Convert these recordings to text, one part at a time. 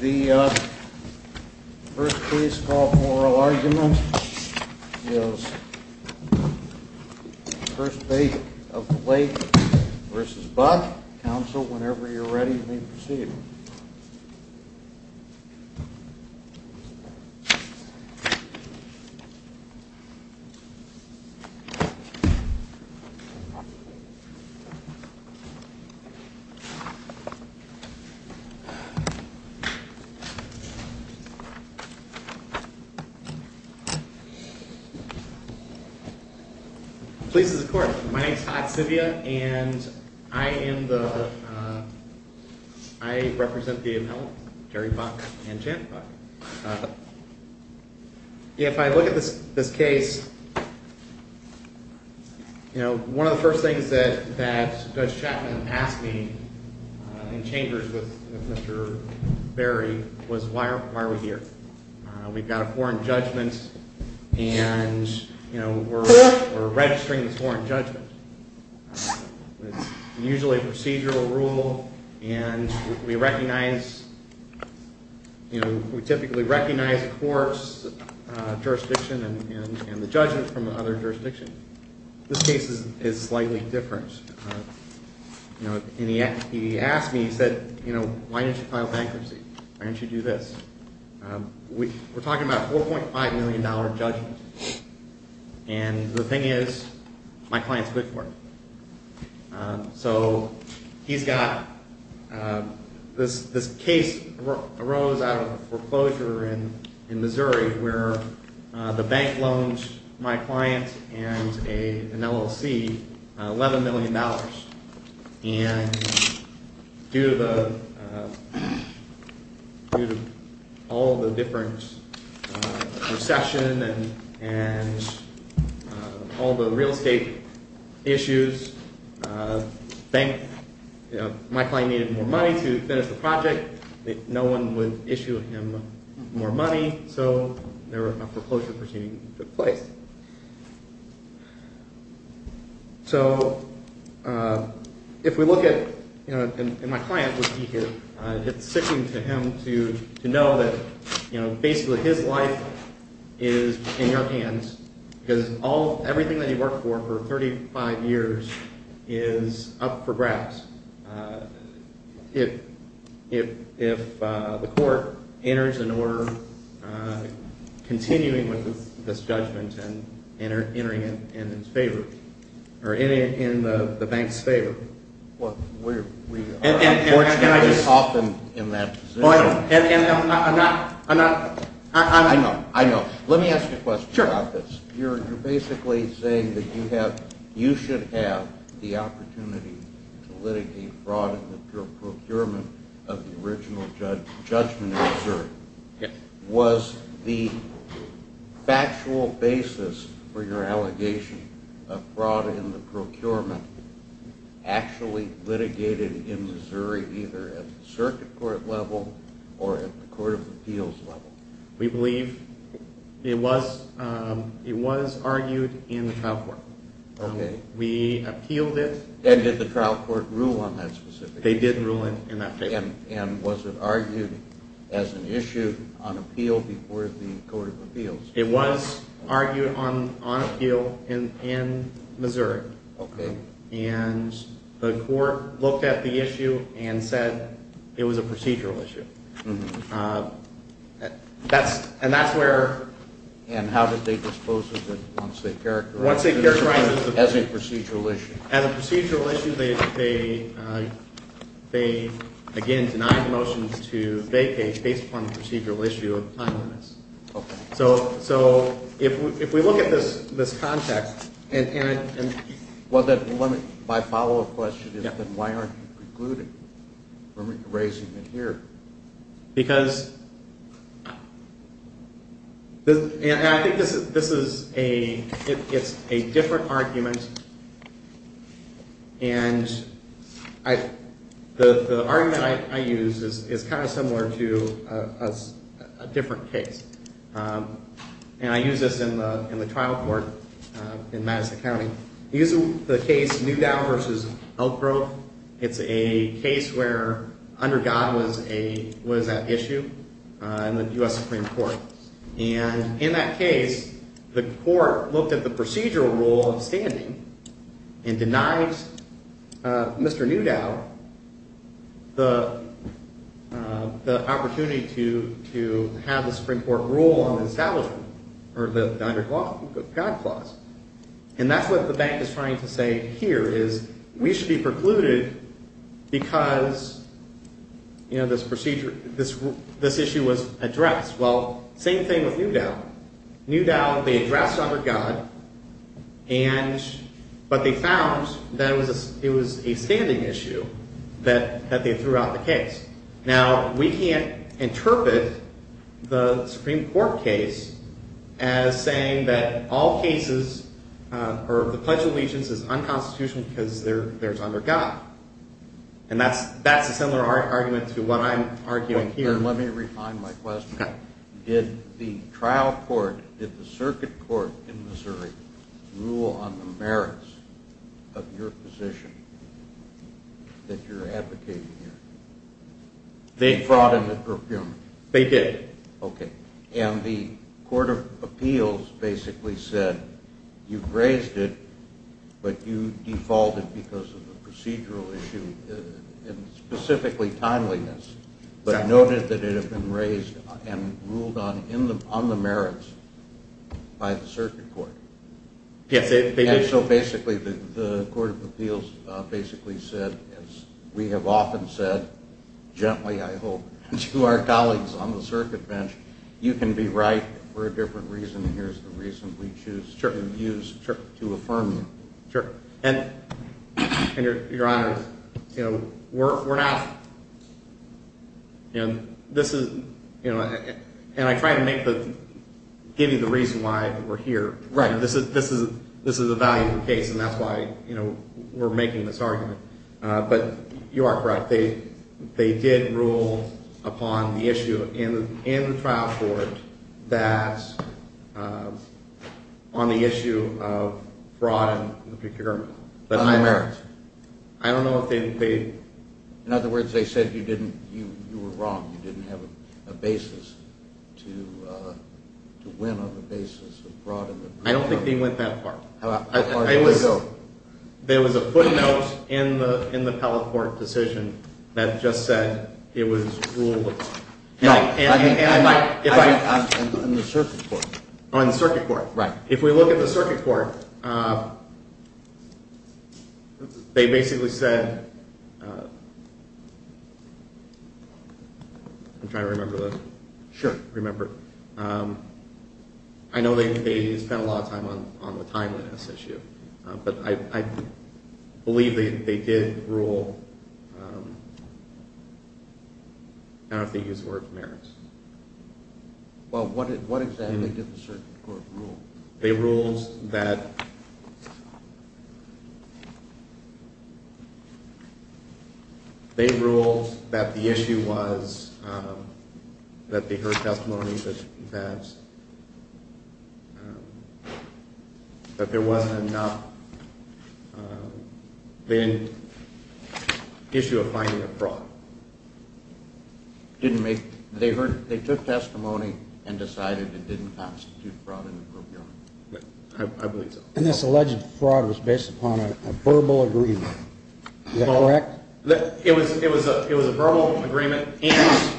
The first case for oral argument is First Bank of the Lake v. Buck. Counsel, whenever you're ready, please proceed. Please, of course. My name is Todd Sibia, and I am the, I represent V.M. Hill, Jerry Buck, and Janet Buck. If I look at this case, you know, one of the first things that Judge Chapman asked me in chambers with Mr. Berry was why are we here? We've got a foreign judgment, and, you know, we're registering this foreign judgment. It's usually a procedural rule, and we recognize, you know, we typically recognize the court's jurisdiction and the judgment from other jurisdictions. This case is slightly different. And he asked me, he said, you know, why didn't you file bankruptcy? Why didn't you do this? We're talking about a $4.5 million judgment. And the thing is, my client's good for it. So he's got, this case arose out of a foreclosure in Missouri where the bank loaned my client and an LLC $11 million. And due to all the different recession and all the real estate issues, my client needed more money to finish the project. No one would issue him more money, so a foreclosure proceeding took place. So if we look at, you know, and my client would be here. It's sickening to him to know that, you know, basically his life is in your hands because all, everything that he worked for for 35 years is up for grabs. If the court enters an order continuing with this judgment and entering it in his favor, or in the bank's favor. Well, we are unfortunately often in that position. I know, I know. Let me ask you a question about this. You're basically saying that you should have the opportunity to litigate fraud in the procurement of the original judgment in Missouri. Was the factual basis for your allegation of fraud in the procurement actually litigated in Missouri either at the circuit court level or at the court of appeals level? We believe it was, it was argued in the trial court. Okay. We appealed it. And did the trial court rule on that specific case? They did rule it in that case. And was it argued as an issue on appeal before the court of appeals? It was argued on appeal in Missouri. Okay. And the court looked at the issue and said it was a procedural issue. And that's where. And how did they dispose of it once they characterized it as a procedural issue? As a procedural issue, they, again, denied the motion to vacate based upon the procedural issue of time limits. Okay. So if we look at this context. Well, then let me, my follow-up question is then why aren't you concluding or raising it here? Because, and I think this is a, it's a different argument. And the argument I use is kind of similar to a different case. And I use this in the trial court in Madison County. I use the case Newdow versus Elk Grove. It's a case where under God was an issue in the U.S. Supreme Court. And in that case, the court looked at the procedural rule of standing and denied Mr. Newdow the opportunity to have the Supreme Court rule on the establishment. Or the under God clause. And that's what the bank is trying to say here is we should be precluded because, you know, this procedure, this issue was addressed. Well, same thing with Newdow. Newdow, they addressed under God and, but they found that it was a standing issue that they threw out the case. Now, we can't interpret the Supreme Court case as saying that all cases or the Pledge of Allegiance is unconstitutional because there's under God. And that's a similar argument to what I'm arguing here. Let me refine my question. Did the trial court, did the circuit court in Missouri rule on the merits of your position that you're advocating here? They brought in the procurement. They did. Okay. And the court of appeals basically said you've raised it, but you defaulted because of the procedural issue and specifically timeliness. But noted that it had been raised and ruled on the merits by the circuit court. Yes, they did. And so basically the court of appeals basically said, as we have often said, gently I hope, to our colleagues on the circuit bench, you can be right for a different reason and here's the reason we choose to use to affirm you. Sure. And Your Honor, you know, we're now, you know, this is, you know, and I try to make the, give you the reason why we're here. Right. This is a valuable case and that's why, you know, we're making this argument. But you are correct. They did rule upon the issue in the trial court that on the issue of fraud in the procurement. On the merits. I don't know if they. In other words, they said you didn't, you were wrong. You didn't have a basis to win on the basis of fraud in the procurement. I don't think they went that far. How far did they go? There was a footnote in the Pellet Court decision that just said it was ruled upon. No. And if I. In the circuit court. Oh, in the circuit court. Right. If we look at the circuit court, they basically said, I'm trying to remember the. Sure. I know they spent a lot of time on the timeliness issue, but I believe they did rule. I don't know if they used the word merits. Well, what exactly did the circuit court rule? They ruled that. They ruled that the issue was that they heard testimony that. But there wasn't enough. They didn't issue a finding of fraud. Didn't make. They heard. They took testimony and decided it didn't constitute fraud. I believe so. And this alleged fraud was based upon a verbal agreement. Is that correct? It was. It was. It was a verbal agreement. And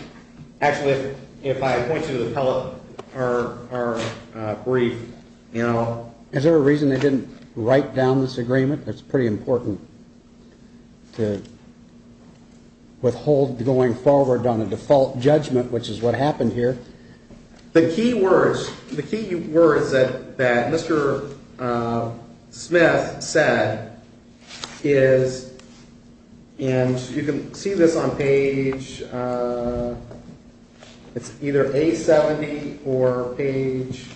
actually, if I point to the Pellet, our brief, you know. Is there a reason they didn't write down this agreement? It's pretty important to withhold going forward on a default judgment, which is what happened here. The key words, the key words that Mr. Smith said is. And you can see this on page. It's either a 70 or page.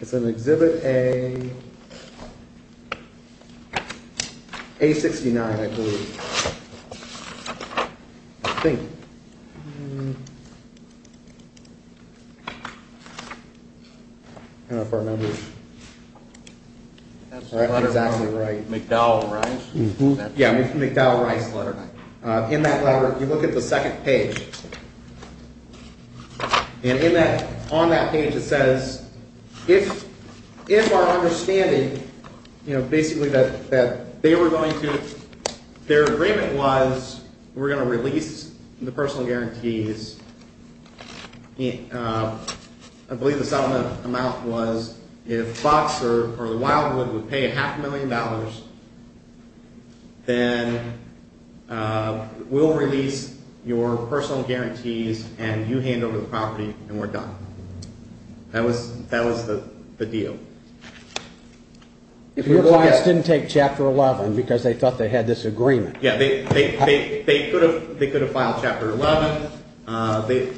It's an exhibit a. A 69, I believe. I think. I don't know if I remember. That's exactly right. McDowell, right? Yeah. McDowell Rice letter. In that letter, you look at the second page. And in that on that page, it says, if if our understanding, you know, basically that they were going to their agreement was we're going to release the personal guarantees. I believe the settlement amount was if Fox or the Wildwood would pay a half a million dollars. Then we'll release your personal guarantees and you hand over the property and we're done. That was that was the deal. If your clients didn't take chapter 11 because they thought they had this agreement. They could have filed chapter 11.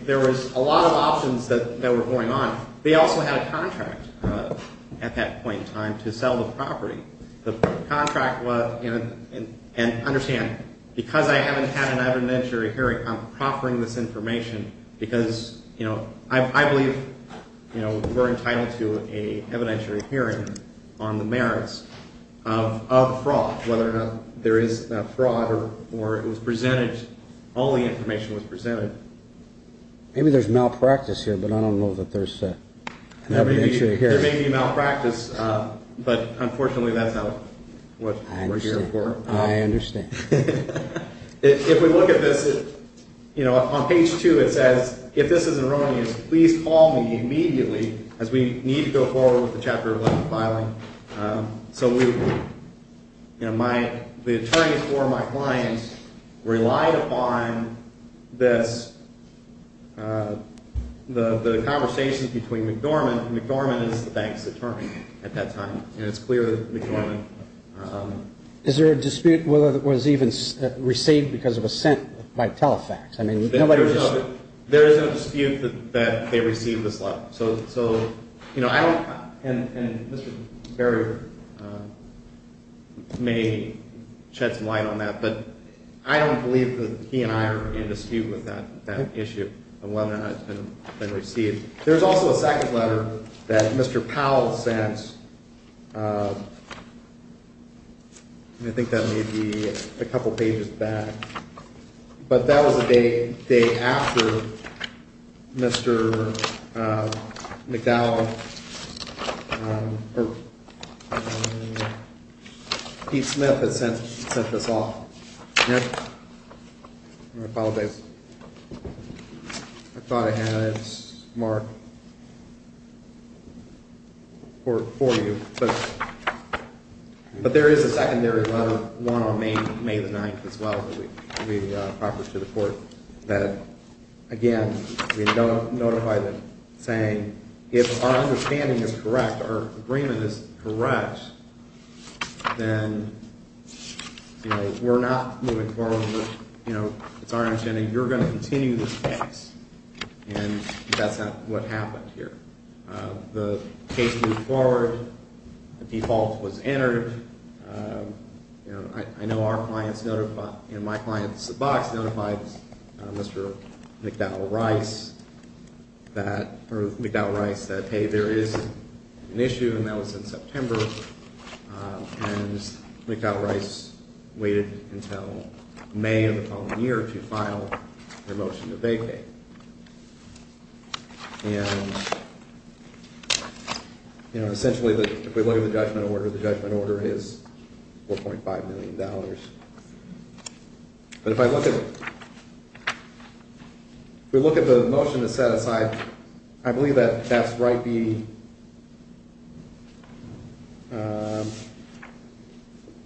There was a lot of options that were going on. They also had a contract at that point in time to sell the property. The contract was. And understand, because I haven't had an evidentiary hearing, I'm proffering this information because, you know, I believe we're entitled to a evidentiary hearing on the merits of fraud. Whether or not there is fraud or it was presented, only information was presented. Maybe there's malpractice here, but I don't know that there's an evidentiary hearing. There may be malpractice, but unfortunately, that's not what we're here for. I understand. If we look at this, you know, on page two, it says, if this is erroneous, please call me immediately as we need to go forward with the chapter 11 filing. So, you know, my the attorneys for my clients relied upon this, the conversations between McDormand. McDormand is the bank's attorney at that time. And it's clear that McDormand. Is there a dispute whether it was even received because of assent by Telefax? I mean, there is a dispute that they received this letter. So, you know, I don't and Mr. Berry may shed some light on that, but I don't believe that he and I are in dispute with that issue of whether or not it's been received. There's also a second letter that Mr. Powell sent. And I think that may be a couple of pages back, but that was a day day after Mr. McDowell. Pete Smith has sent sent this off. I apologize. I thought I had Mark. For you. But there is a secondary one on May 9th as well. Proper to the court that again, we don't notify them saying if our understanding is correct or agreement is correct. Then we're not moving forward. You know, it's our understanding. You're going to continue this case. And that's what happened here. The case moved forward. The default was entered. I know our clients in my client's box notified Mr. McDowell Rice. That McDowell Rice said, hey, there is an issue, and that was in September. And McDowell Rice waited until May of the following year to file a motion to vacate. And. You know, essentially, if we look at the judgment order, the judgment order is 4.5 million dollars. But if I look at. We look at the motion to set aside. I believe that that's right. B.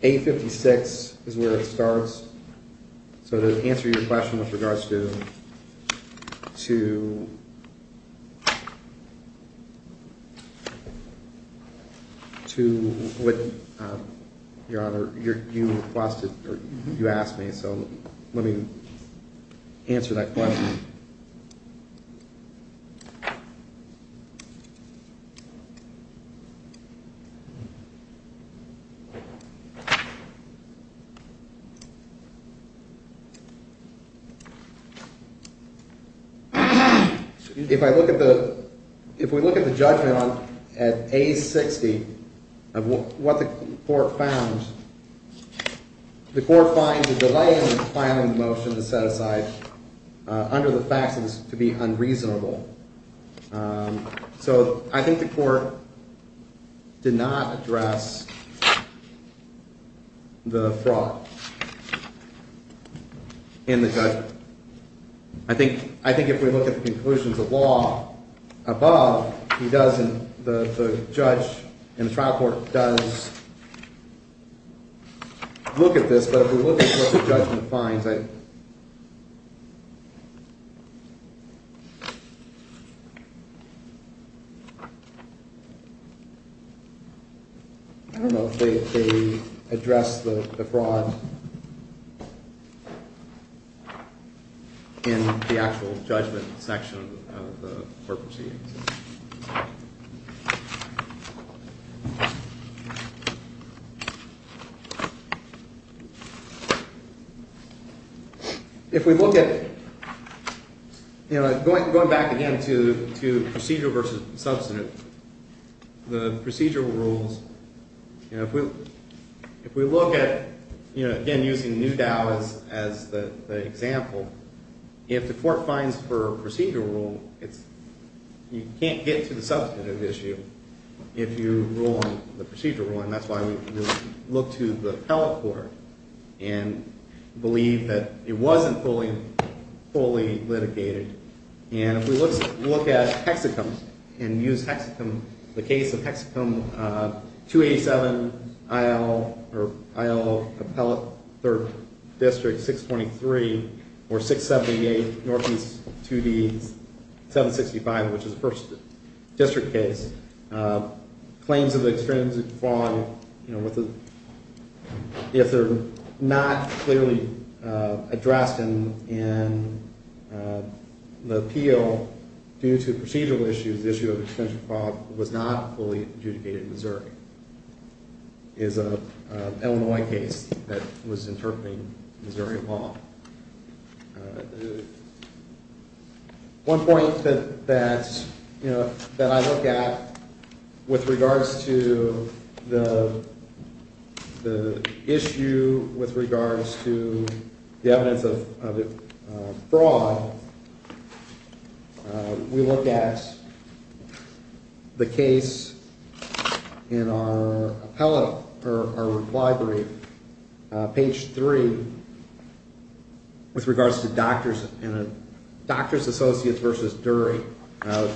A 56 is where it starts. So to answer your question with regards to. To. To what? Your Honor, you asked me, so let me. Answer that question. So. If I look at the if we look at the judgment on at a 60 of what the court found. The court finds a delay in filing motion to set aside under the facts to be unreasonable. So I think the court. Did not address. The fraud. In the. I think I think if we look at the conclusions of law above, he doesn't. The judge in the trial court does. Look at this, but if we look at what the judgment finds. I don't know if they address the fraud. In the actual judgment section of the court proceedings. If we look at. Going back again to procedural versus substantive. The procedural rules. If we look at, you know, again, using new Dallas as the example. If the court finds for procedural rule, it's. You can't get to the substantive issue. If you rule on the procedural, and that's why we look to the appellate court. And. Believe that it wasn't fully. Fully litigated. And if we look at hexagons and use hexagons. The case of hexagons. 287. I'll. Or I'll. Appellate. 3rd. District. 623. Or 678. Northeast. To the. 765, which is the 1st. District case. Claims of extrinsic fraud. With the. If they're. Not. Clearly. Addressed. In. The appeal. Due to procedural issues. Issue of extension. Was not fully adjudicated. Missouri. Is a. Illinois case. That was interpreting. Missouri law. One point. That's. You know. That I look at. With regards to. The. The. Issue. With regards to. The evidence of. Fraud. We look at. The case. In our appellate. Or library. Page 3. With regards to doctors. In a doctor's associates versus. Dury.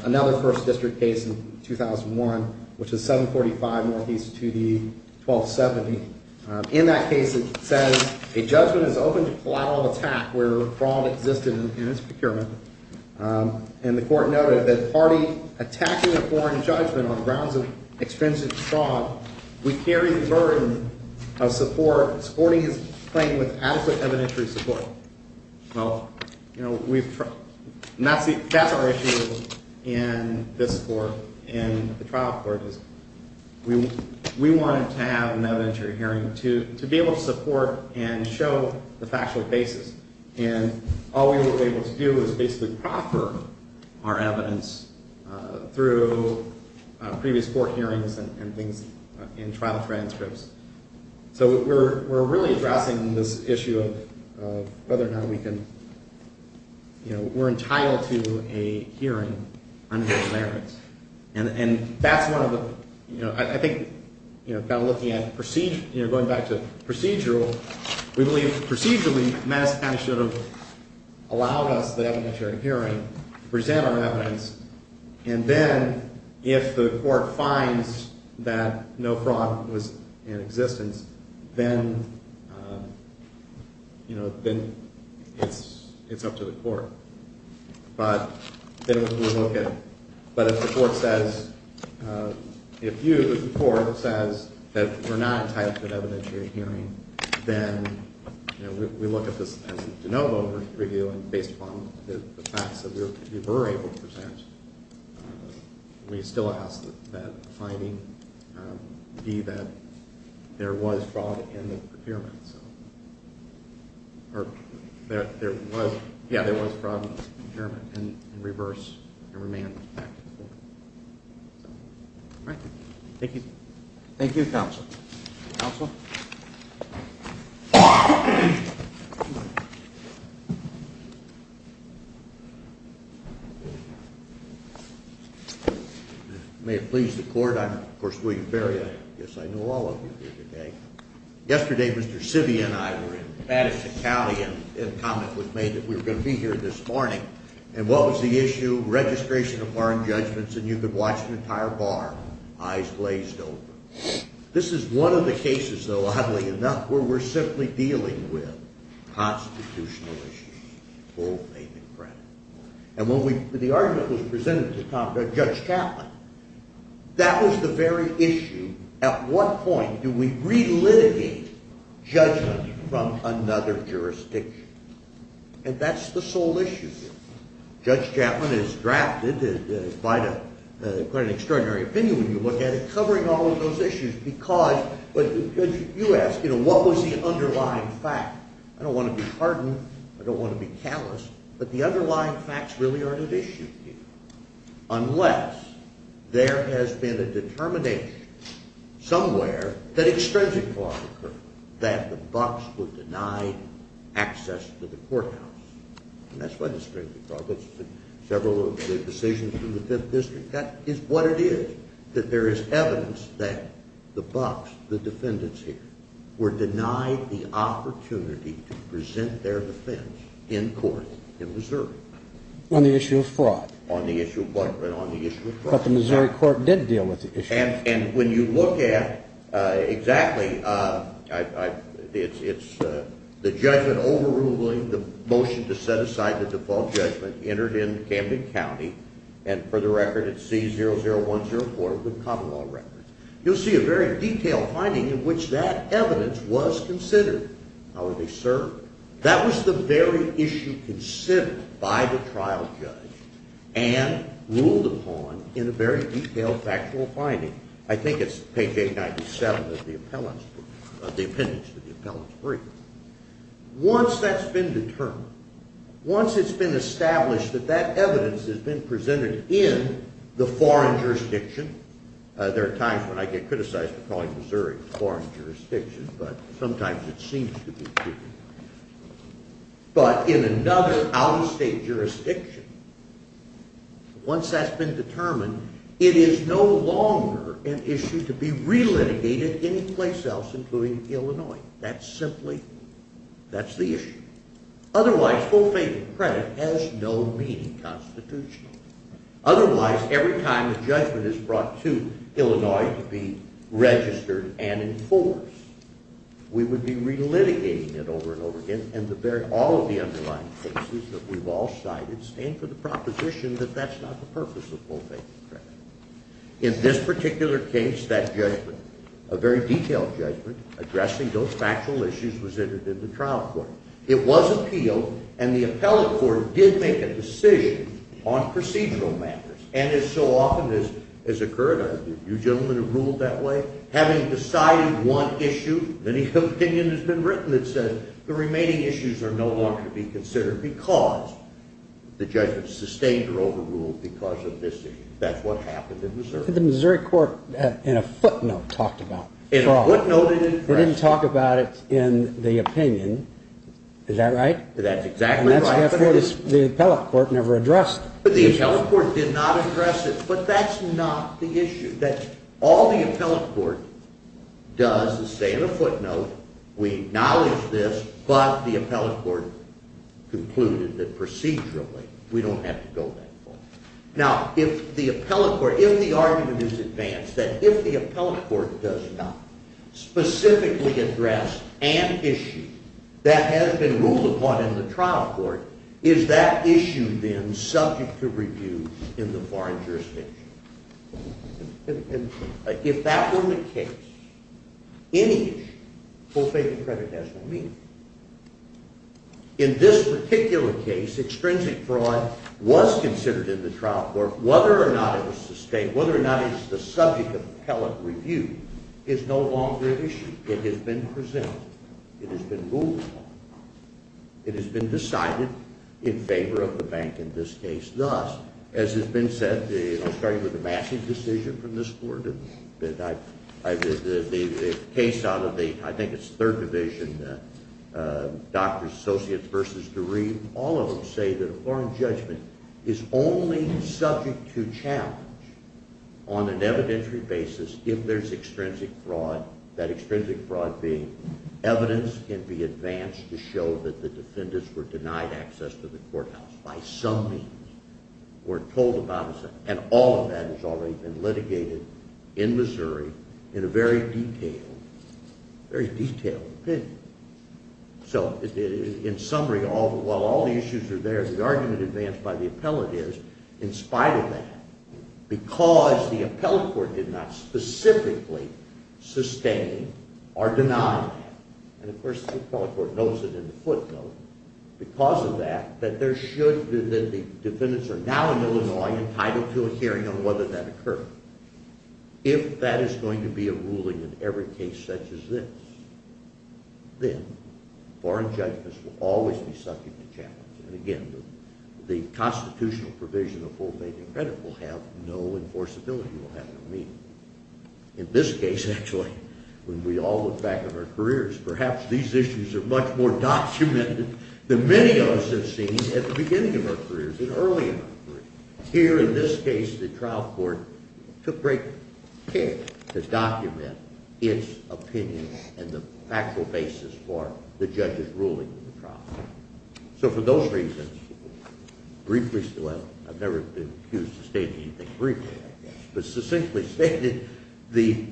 Another 1st. District case. In 2001. Which is 745. Northeast. To the. 1270. In that case. It says. A judgment is open. To collateral attack. Where fraud existed. In its procurement. And the court noted. That party. Attacking a foreign. Judgment. On grounds of. Extensive. Fraud. We carry the burden. Of support. Sporting his. Playing with. Adequate evidentiary. Support. Well. You know. We've. Not see. That's our issue. In this. Court. In the trial court. Is. We. We wanted. To have. An evidentiary hearing. To. To be able to support. And show. The factual basis. And. All we were. Able to do. Is basically. Proper. Our evidence. Through. Previous. Court hearings. And things. In trial transcripts. So. We're. We're really. Addressing this. Issue of. Whether or not. We can. You know. We're entitled. To a hearing. Under the merits. And. That's one of the. You know. I think. You know. About looking at. Proceed. You know. Going back to. Procedural. Procedurally. Mass. Should have. Allowed us. The evidentiary hearing. Present. Our evidence. And then. If the court. Finds. That. No fraud. Was. In existence. Then. You know. Then. It's. It's up to the court. But. Then. We'll look at it. But if the court says. If you. The court. Says. That we're not. Entitled. To an evidentiary hearing. Then. You know. We look at this. As a de novo. Review. And based upon. The facts. That we were. Able to present. We still ask. That finding. Be that. There was. Fraud. In the procurement. So. Or. There. There was. Yeah. There was fraud. In the procurement. And reverse. And remand. Back to the court. So. All right. Thank you. Thank you. Counsel. Counsel. May it please the court. I'm. Of course. William Ferrier. Yes. I know. All of you. Here today. Yesterday. Mr. City. And I. Were in. Baddest. Italian. And comment. Was made. That we were. Going to be here. This morning. And what was. The issue. Registration. Of foreign judgments. And you could watch. An entire bar. Eyes glazed. This is one of the cases. Though. Had enough. Where we're simply. Dealing with. Constitutional. And when we. The argument. Was presented. To. Judge Chapman. That was the very. Issue. At what point. Do we. Relitigate. Judgment. From another. Jurisdiction. And that's. The sole. Issue. Judge Chapman. Is drafted. By. The. Extraordinary. Opinion. When you look at it. Covering all. Of those issues. Because. But. You ask. You know. What was the underlying. Fact. I don't want. To be hardened. I don't want. To be callous. But the underlying. Facts. Really are. An issue. Unless. There has been. A determination. Somewhere. That extrinsic law. That the box. Was denied. Access. To the courthouse. And that's. What is. Several. Decisions. In the fifth district. That is. What it is. That there is. Evidence. That the box. The defendants. Here. Were denied. The opportunity. To present. Their defense. In court. In Missouri. On the issue of fraud. On the issue of what? On the issue of fraud. But the Missouri court. Did deal with the issue. And when you look at. Exactly. I. It's. The judgment. Overruling. The motion. To set aside. The default judgment. Entered in. Camden County. And for the record. It's C00104. With common law records. You'll see. A very detailed. Finding. In which that. Evidence. Was considered. How would they serve? That was the very. Issue. Considered. By the trial. Judge. And. Ruled upon. In a very detailed. Factual finding. I think it's. Page 897. Of the appellants. Of the appendix. To the appellants. Three. Once that's been. Determined. Once it's been established. That that evidence. Has been presented. In. The foreign. Jurisdiction. There are times. When I get. Criticized. Foreign. Jurisdiction. But sometimes. It seems to be. But. In another. Out-of-state. Jurisdiction. Once that's been. Determined. It is. No longer. An issue. To be. Relitigated. Anyplace else. Including. Illinois. That's simply. That's the issue. Otherwise. Full. Fated. Credit. Has no. Meaning. Constitution. Otherwise. Every time. A judgment. Is brought. To. Illinois. To be. Registered. And enforced. We would be. Relitigating it. Over and over again. And the very. All of the underlying. Cases. That we've all cited. Stand for the proposition. That that's not the purpose. Of full. Fated. Credit. In this particular case. That judgment. A very detailed. Judgment. Addressing those factual. Issues. Resented. In the trial. Court. It was appealed. And the appellate. Court. Did make a decision. On procedural. Matters. And as so often. As. Has occurred. You gentlemen. Have ruled that way. Having decided. One. Issue. Many. Opinions. Have been written. That says. The remaining. Issues are no longer. To be considered. Because. The judgment. Sustained. Or overruled. Because of this. That's what happened. In Missouri. The Missouri court. In a footnote. Talked about. In a footnote. We didn't talk. About it. In the opinion. Is that right? That's exactly. Right. The appellate. Court. Never addressed. But the appellate. Court. Did not address it. But that's not. The issue. That's. All the appellate. Court. Is say. In a footnote. We acknowledge this. But the appellate. Court. Concluded. That procedurally. We don't have to go. That far. Now. If the appellate. Court. If the argument. Is advanced. That if the appellate. Court. Does not. Specifically. Address. An issue. That has been ruled. Upon. In the trial. Court. Is that issue. Then. Subject. To review. In the foreign. Jurisdiction. If that were. The case. Any. Issue. Full. Faith. And credit. Has no meaning. In this particular. Case. Extrinsic fraud. Was considered. In the trial. Court. Whether or not. It was sustained. Whether or not. It's the subject. Of appellate. Review. Is no longer. An issue. It has been. Presented. It has been ruled. It has been decided. In favor. Of the bank. In this case. Thus. As has been said. The starting. With a massive. Decision. From this board. That I. I did. The case. Out of the. I think it's. Third division. Doctors. Associates. Versus. Degree. All of them. Say that. Foreign judgment. Is only. Subject. To challenge. On an evidentiary. Basis. If there's. Extrinsic. Fraud. That extrinsic. Fraud. Being. Evidence. Can be advanced. To show. That the defendants. Were denied access. To the courthouse. By some. Means. We're told about. And all of that. Has already been litigated. In Missouri. In a very. Detailed. Very detailed. So. In summary. All the while. All the issues are there. The argument. Advanced by the appellate. Is in spite. Of that. Because. The appellate court. Specifically. Sustained. Or denied. And of course. The appellate court. Notes it in a footnote. Because of that. That there should. That the defendants. Are now in Illinois. Entitled to a hearing. On whether that occurred. If. That is going to be. A ruling. In every case. Such as this. Then. Foreign judgments. Will always. Be subject. To challenge. And again. The constitutional. Provision. Of full. Enforceability. Will happen. Immediately. In this case. Actually. When we all. Look back. On our careers. Perhaps. These issues. Are much more. Documented. Than many of us. Have seen. At the beginning. Of our careers. And early. In our careers. Here. In this case. The trial court. Took great. Care. To document. Its. Opinion. And the. Factual basis. For. The judge's. Ruling. In the trial. So for those reasons. Briefly. Still haven't. I've never been. Accused. Of stating anything. Briefly. But succinctly stated. The.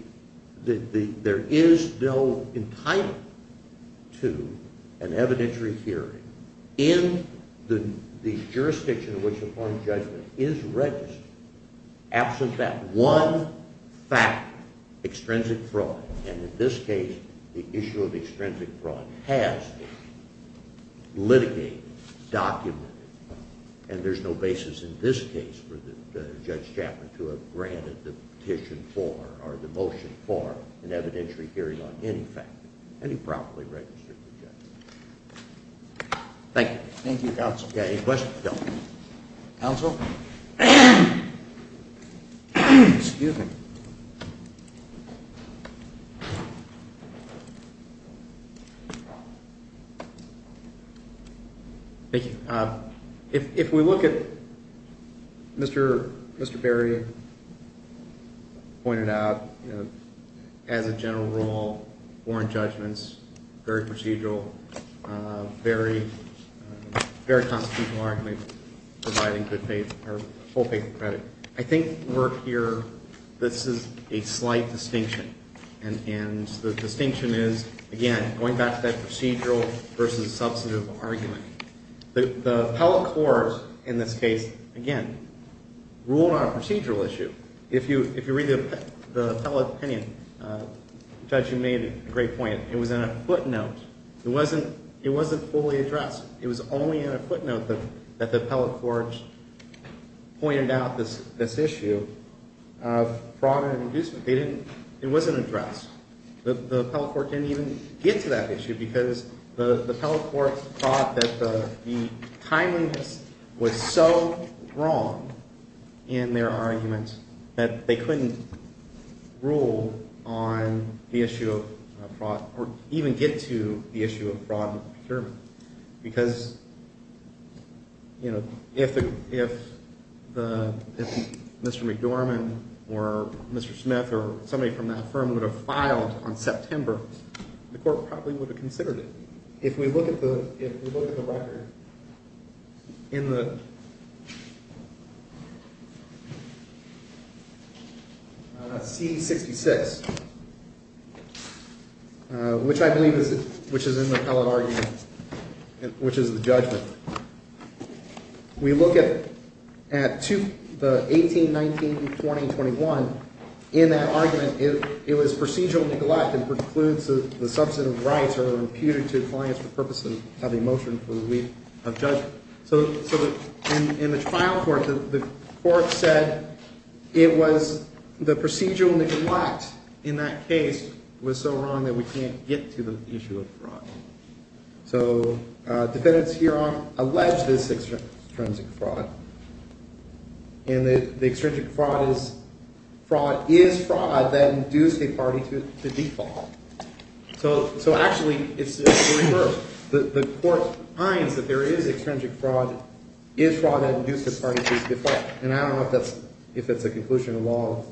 There is. No. Entitlement. To. An evidentiary. Hearing. In. The. Jurisdiction. Of which. A foreign judgment. Is registered. Absent that. One. Fact. Extrinsic fraud. And in this case. The issue of. Extrinsic fraud. Has. Litigated. Documented. And there's no basis. In this case. For the. Judge Chapman. To have granted. The petition. For. Or the motion. For. An evidentiary hearing. On any fact. Any properly. Registered. Objection. Thank you. Thank you. Counsel. Any questions? Counsel. Excuse me. Thank you. If we look at. Mr. Mr. Berry. Pointed out. As a general rule. Warrant judgments. Very procedural. Very. Very. Constitutional argument. Providing. Good faith. Or. Full faith. Credit. I think. Work here. This is. A slight distinction. And. And. The distinction is. Again. Going back. To that procedural. Versus substantive. Argument. The. The appellate court. In this case. Again. Ruled on a procedural issue. If you. If you read. The appellate opinion. Judge. You made. A great point. It was in a footnote. It wasn't. It wasn't fully addressed. It was only. In a footnote. That the appellate court. Pointed out. This. This issue. Of. Fraud and. Inducement. They didn't. It wasn't addressed. The appellate court. Didn't even. Get to that issue. Because. The appellate court. Thought that the. Timeliness. Was so. Wrong. In their argument. That they couldn't. Rule. On. The issue. Of fraud. Or even get to. The issue of fraud. And procurement. Because. You know. If the. If. Mr. McDormand. Or. Mr. Smith. Or. Somebody from that firm. Would have. Filed. On September. The court. Probably would have. Considered it. If we look at the. If. We look at the record. In the. C. Sixty. Six. Which. I believe. Is. Which is. In the appellate argument. Which is. The judgment. We look. At. To. The. 18. 19. 20. 21. In that argument. If. It was procedural. Neglect. And precludes. The substantive. Rights are. Imputed to. Clients. For purposes. Of emotion. For the week. Of judgment. So. So. In. In the trial. Court. The court. Said. It was. The procedural. Neglect. In that case. Was so wrong. That we can't. Get to the issue. Of fraud. So. Defendants. Hereon. Alleged. Extrinsic fraud. In the. Extrinsic fraud. Is. Fraud. Is. Fraud. That induced. A party. To default. So. So. Actually. It's. The court. Finds. That there is. Extrinsic fraud. Is fraud. That induced. A party. To default. And I don't know. If that's. If it's a conclusion. Of law.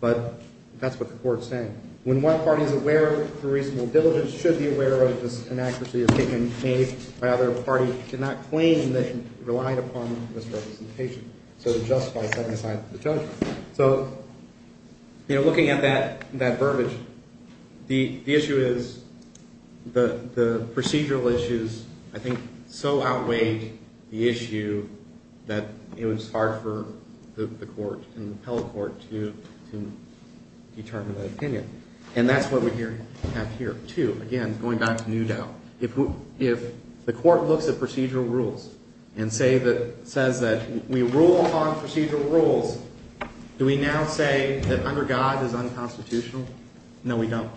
But. That's what the court. Is saying. When one party. Is aware. Of the reasonable. Should be aware. Of this. Inaccuracy. Is being. Made. By other. Party. Cannot. Claim. That relied. Upon. Misrepresentation. So to justify. Setting aside. The judgment. So. You know. Looking at that. That verbiage. The. The issue is. The. The. Procedural issues. I think. So outweighed. The issue. That. It was hard for. The court. And the appellate court. To. Determine. An opinion. And that's what we. Have here. Too. Again. Going back. To new doubt. If. If. The court. Looks at procedural rules. And say that. Says that. We rule. Upon. Procedural rules. Do we now say. That under God. Is unconstitutional. No we don't.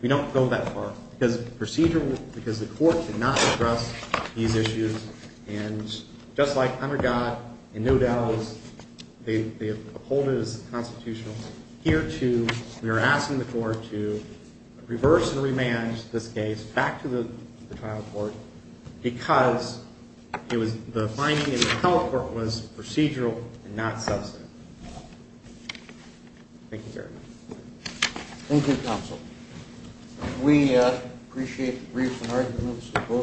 We don't go that far. Because. Procedural. Because the court. Cannot. Address. These issues. And. Just like. Under God. And no doubt. Is. They. They. Uphold it as. Constitutional. Here too. We are asking the court. To. Reverse. And. Remand. This case. Back to the. Court. Because. It was. The. Help. Was procedural. Not. Thank you. Very much. Thank you. Counsel. We. Appreciate. Brief. Both.